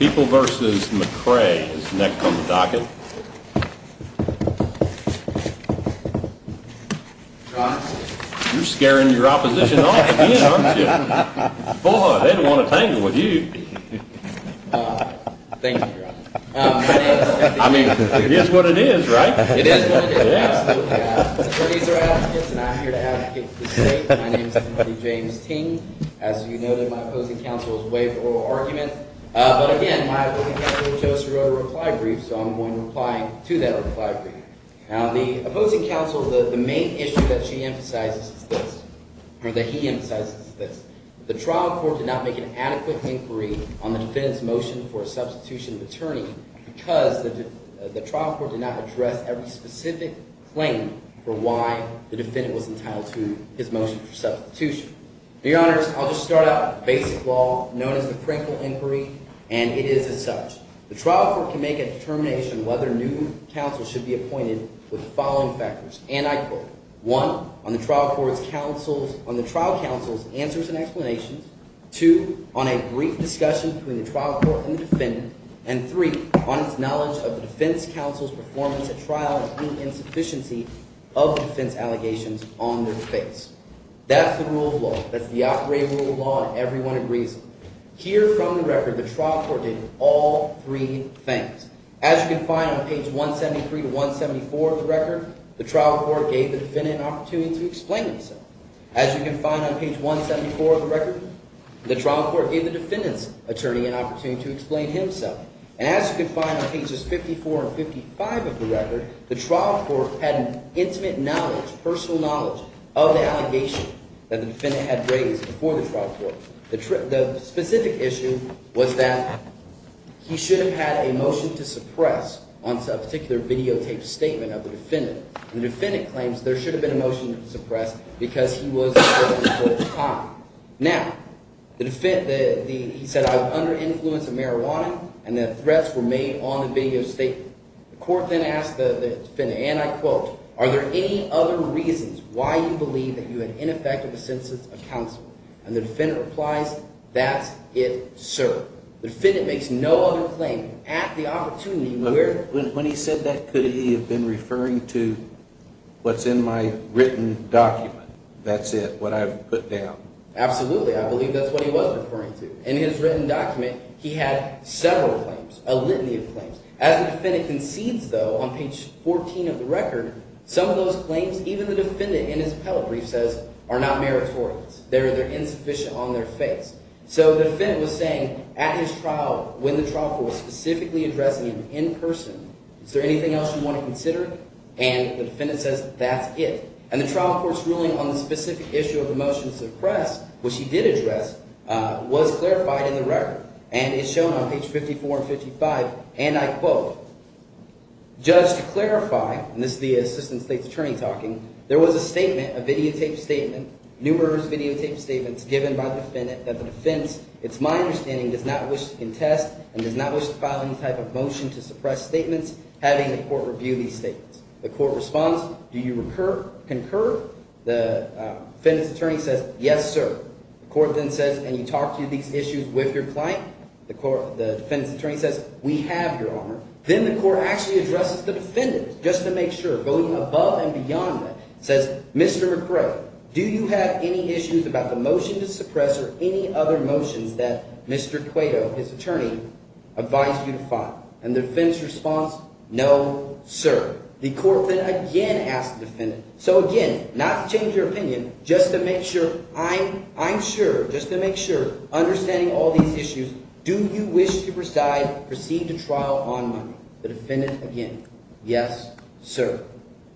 People v. McCray is next on the docket. You're scaring your opposition off again, aren't you? Boy, they don't want to tangle with you. Thank you, Your Honor. I mean, it is what it is, right? It is what it is, absolutely. The attorneys are advocates, and I'm here to advocate for the state. My name is Timothy James Ting. As you noted, my opposing counsel has waived the oral argument, but again, my opposing counsel chose to go to a reply brief, so I'm going to reply to that reply brief. Now, the opposing counsel, the main issue that she emphasizes is this, or that he emphasizes is this. The trial court did not make an adequate inquiry on the defendant's motion for a substitution of attorney because the trial court did not address every specific claim for why the defendant was entitled to his motion for substitution. Now, Your Honors, I'll just start out with a basic law known as the Prinkle Inquiry, and it is as such. The trial court can make a determination whether new counsel should be appointed with the following factors, and I quote, one, on the trial counsel's answers and explanations, two, on a brief discussion between the trial court and the defendant, and three, on its knowledge of the defense counsel's performance at trial and the insufficiency of defense allegations on their face. That's the rule of law. That's the operating rule of law, and everyone agrees on it. Here from the record, the trial court did all three things. As you can find on page 173 to 174 of the record, the trial court gave the defendant an opportunity to explain himself. As you can find on page 174 of the record, the trial court gave the defendant's attorney an opportunity to explain himself. And as you can find on pages 54 and 55 of the record, the trial court had an intimate knowledge, personal knowledge, of the allegation that the defendant had raised before the trial court. The specific issue was that he should have had a motion to suppress on a particular videotaped statement of the defendant. And the defendant claims there should have been a motion to suppress because he was in prison for the time. Now, the – he said I was under influence of marijuana, and the threats were made on the videotaped statement. The court then asked the defendant, and I quote, are there any other reasons why you believe that you had ineffective assistance of counsel? And the defendant replies, that's it, sir. The defendant makes no other claim at the opportunity where – When he said that, could he have been referring to what's in my written document, that's it, what I've put down? Absolutely. I believe that's what he was referring to. In his written document, he had several claims, a litany of claims. As the defendant concedes, though, on page 14 of the record, some of those claims, even the defendant in his appellate brief says, are not meritorious. They're insufficient on their face. So the defendant was saying at his trial, when the trial court was specifically addressing him in person, is there anything else you want to consider? And the defendant says that's it. And the trial court's ruling on the specific issue of the motion to suppress, which he did address, was clarified in the record. And it's shown on page 54 and 55, and I quote, Judge, to clarify – and this is the assistant state's attorney talking – there was a statement, a videotaped statement, numerous videotaped statements, given by the defendant that the defense, it's my understanding, does not wish to contest and does not wish to file any type of motion to suppress statements, having the court review these statements. The court responds, do you concur? The defendant's attorney says, yes, sir. The court then says, can you talk to these issues with your client? The defendant's attorney says, we have your honor. Then the court actually addresses the defendant, just to make sure, going above and beyond that. It says, Mr. McRae, do you have any issues about the motion to suppress or any other motions that Mr. Cueto, his attorney, advised you to file? And the defendant's response, no, sir. The court then again asks the defendant. So again, not to change your opinion, just to make sure, I'm sure, just to make sure, understanding all these issues, do you wish to preside, proceed to trial on money? The defendant, again, yes, sir.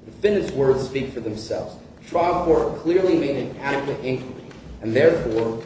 The defendant's words speak for themselves. The trial court clearly made an adequate inquiry, and therefore,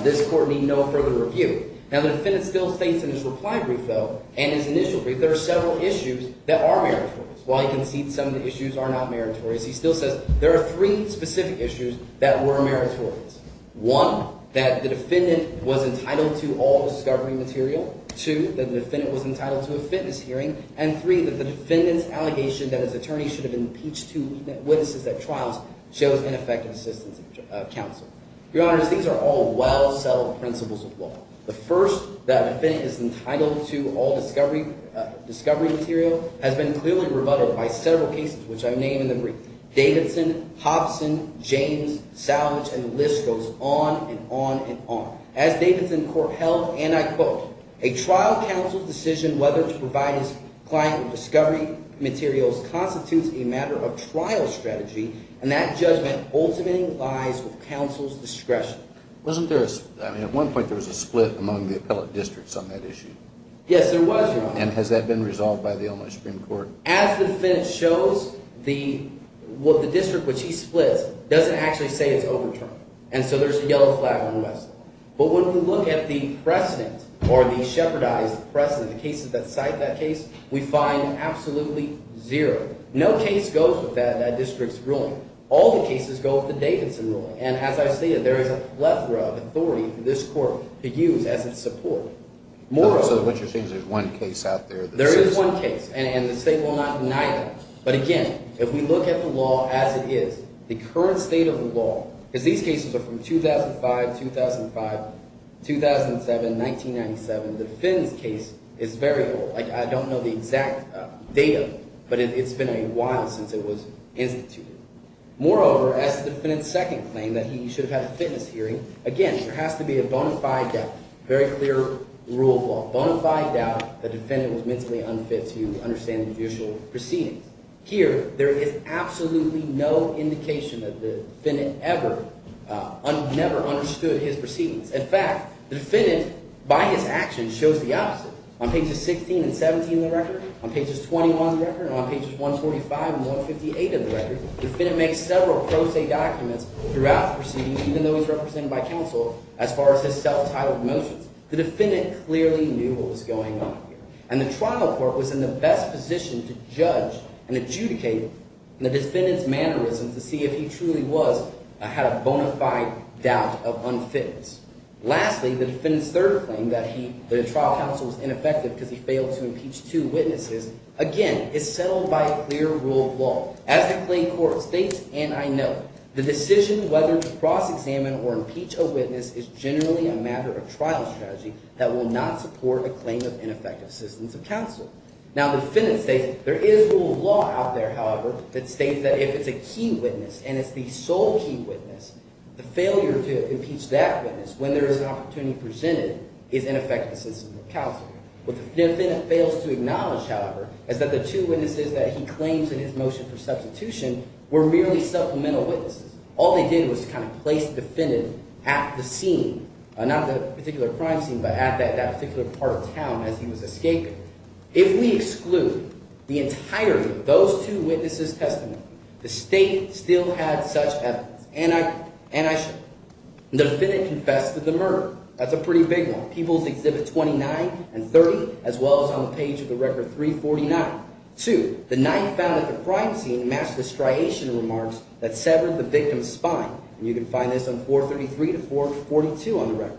this court need no further review. Now, the defendant still states in his reply brief, though, and his initial brief, there are several issues that are meritorious. While he concedes some of the issues are not meritorious, he still says there are three specific issues that were meritorious. One, that the defendant was entitled to all discovery material. Two, that the defendant was entitled to a fitness hearing. And three, that the defendant's allegation that his attorney should have impeached two witnesses at trials shows ineffective assistance of counsel. Your honors, these are all well-settled principles of law. The first, that the defendant is entitled to all discovery material, has been clearly rebutted by several cases, which I've named in the brief. Davidson, Hobson, James, Savage, and the list goes on and on and on. As Davidson court held, and I quote, a trial counsel's decision whether to provide his client with discovery materials constitutes a matter of trial strategy, and that judgment ultimately lies with counsel's discretion. Wasn't there a – I mean, at one point there was a split among the appellate districts on that issue. Yes, there was, Your Honor. And has that been resolved by the Illinois Supreme Court? As the defense shows, the – well, the district which he splits doesn't actually say it's overturned. And so there's a yellow flag on the West Lawn. But when we look at the precedent or the shepherdized precedent, the cases that cite that case, we find absolutely zero. No case goes with that district's ruling. All the cases go with the Davidson ruling. And as I stated, there is a plethora of authority for this court to use as its support. So what you're saying is there's one case out there that says that? There is one case, and the state will not deny that. But again, if we look at the law as it is, the current state of the law – because these cases are from 2005, 2005, 2007, 1997. The Finn's case is very old. Like, I don't know the exact date of it, but it's been a while since it was instituted. Moreover, as the defendant's second claim that he should have had a fitness hearing, again, there has to be a bona fide doubt, very clear rule of law, bona fide doubt that the defendant was mentally unfit to understand the judicial proceedings. Here, there is absolutely no indication that the defendant ever – never understood his proceedings. In fact, the defendant, by his actions, shows the opposite. On pages 16 and 17 of the record, on pages 21 of the record, and on pages 145 and 158 of the record, the defendant makes several pro se documents throughout the proceedings, even though he's represented by counsel as far as his self-titled motions. The defendant clearly knew what was going on here. And the trial court was in the best position to judge and adjudicate the defendant's mannerisms to see if he truly was – had a bona fide doubt of unfitness. Lastly, the defendant's third claim that he – that the trial counsel was ineffective because he failed to impeach two witnesses, again, is settled by a clear rule of law. As the claim court states, and I know it, the decision whether to cross-examine or impeach a witness is generally a matter of trial strategy that will not support a claim of ineffective assistance of counsel. Now, the defendant states there is rule of law out there, however, that states that if it's a key witness and it's the sole key witness, the failure to impeach that witness when there is an opportunity presented is ineffective assistance of counsel. What the defendant fails to acknowledge, however, is that the two witnesses that he claims in his motion for substitution were merely supplemental witnesses. All they did was to kind of place the defendant at the scene, not the particular crime scene but at that particular part of town as he was escaping. If we exclude the entirety of those two witnesses' testimony, the state still had such evidence, and I should. The defendant confessed to the murder. That's a pretty big one. People's Exhibit 29 and 30 as well as on the page of the Record 349. Two, the knife found at the crime scene matched the striation remarks that severed the victim's spine, and you can find this on 433 to 442 on the Record.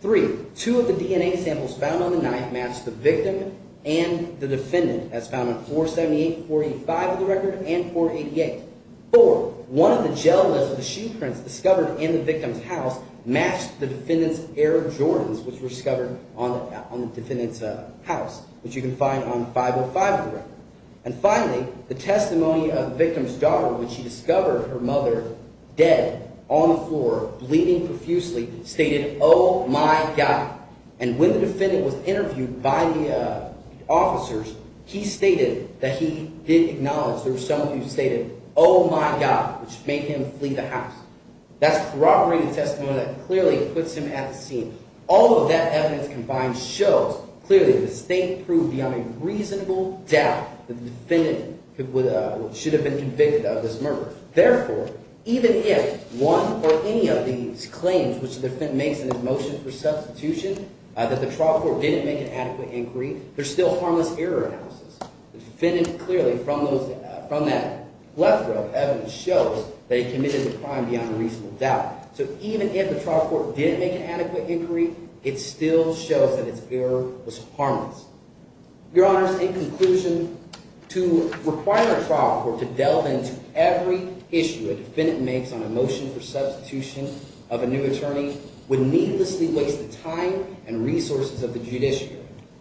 Three, two of the DNA samples found on the knife matched the victim and the defendant as found on 478 to 45 of the Record and 488. Four, one of the gel-less machine prints discovered in the victim's house matched the defendant's Air Jordans, which were discovered on the defendant's house, which you can find on 505 of the Record. And finally, the testimony of the victim's daughter when she discovered her mother dead on the floor bleeding profusely stated, oh, my God. And when the defendant was interviewed by the officers, he stated that he did acknowledge there was someone who stated, oh, my God, which made him flee the house. That's corroborated testimony that clearly puts him at the scene. All of that evidence combined shows clearly the state proved beyond a reasonable doubt that the defendant should have been convicted of this murder. Therefore, even if one or any of these claims, which the defendant makes in his motion for substitution, that the trial court didn't make an adequate inquiry, there's still harmless error analysis. The defendant clearly, from that left row of evidence, shows that he committed the crime beyond a reasonable doubt. So even if the trial court didn't make an adequate inquiry, it still shows that its error was harmless. Your Honors, in conclusion, to require a trial court to delve into every issue a defendant makes on a motion for substitution of a new attorney would needlessly waste the time and resources of the judiciary.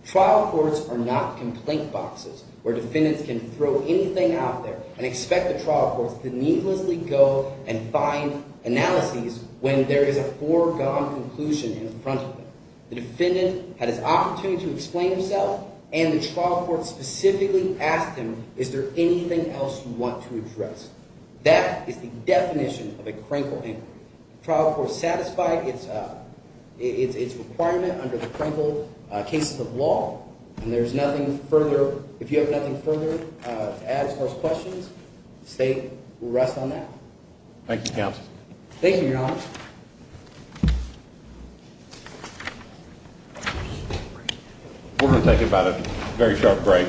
Trial courts are not complaint boxes where defendants can throw anything out there and expect the trial courts to needlessly go and find analyses when there is a foregone conclusion in front of them. The defendant had his opportunity to explain himself, and the trial court specifically asked him, is there anything else you want to address? That is the definition of a crankle inquiry. The trial court satisfied its requirement under the crankle cases of law, and there's nothing further, if you have nothing further to add as far as questions, the state will rest on that. Thank you, Counsel. Thank you, Your Honors. We're going to take about a very short break.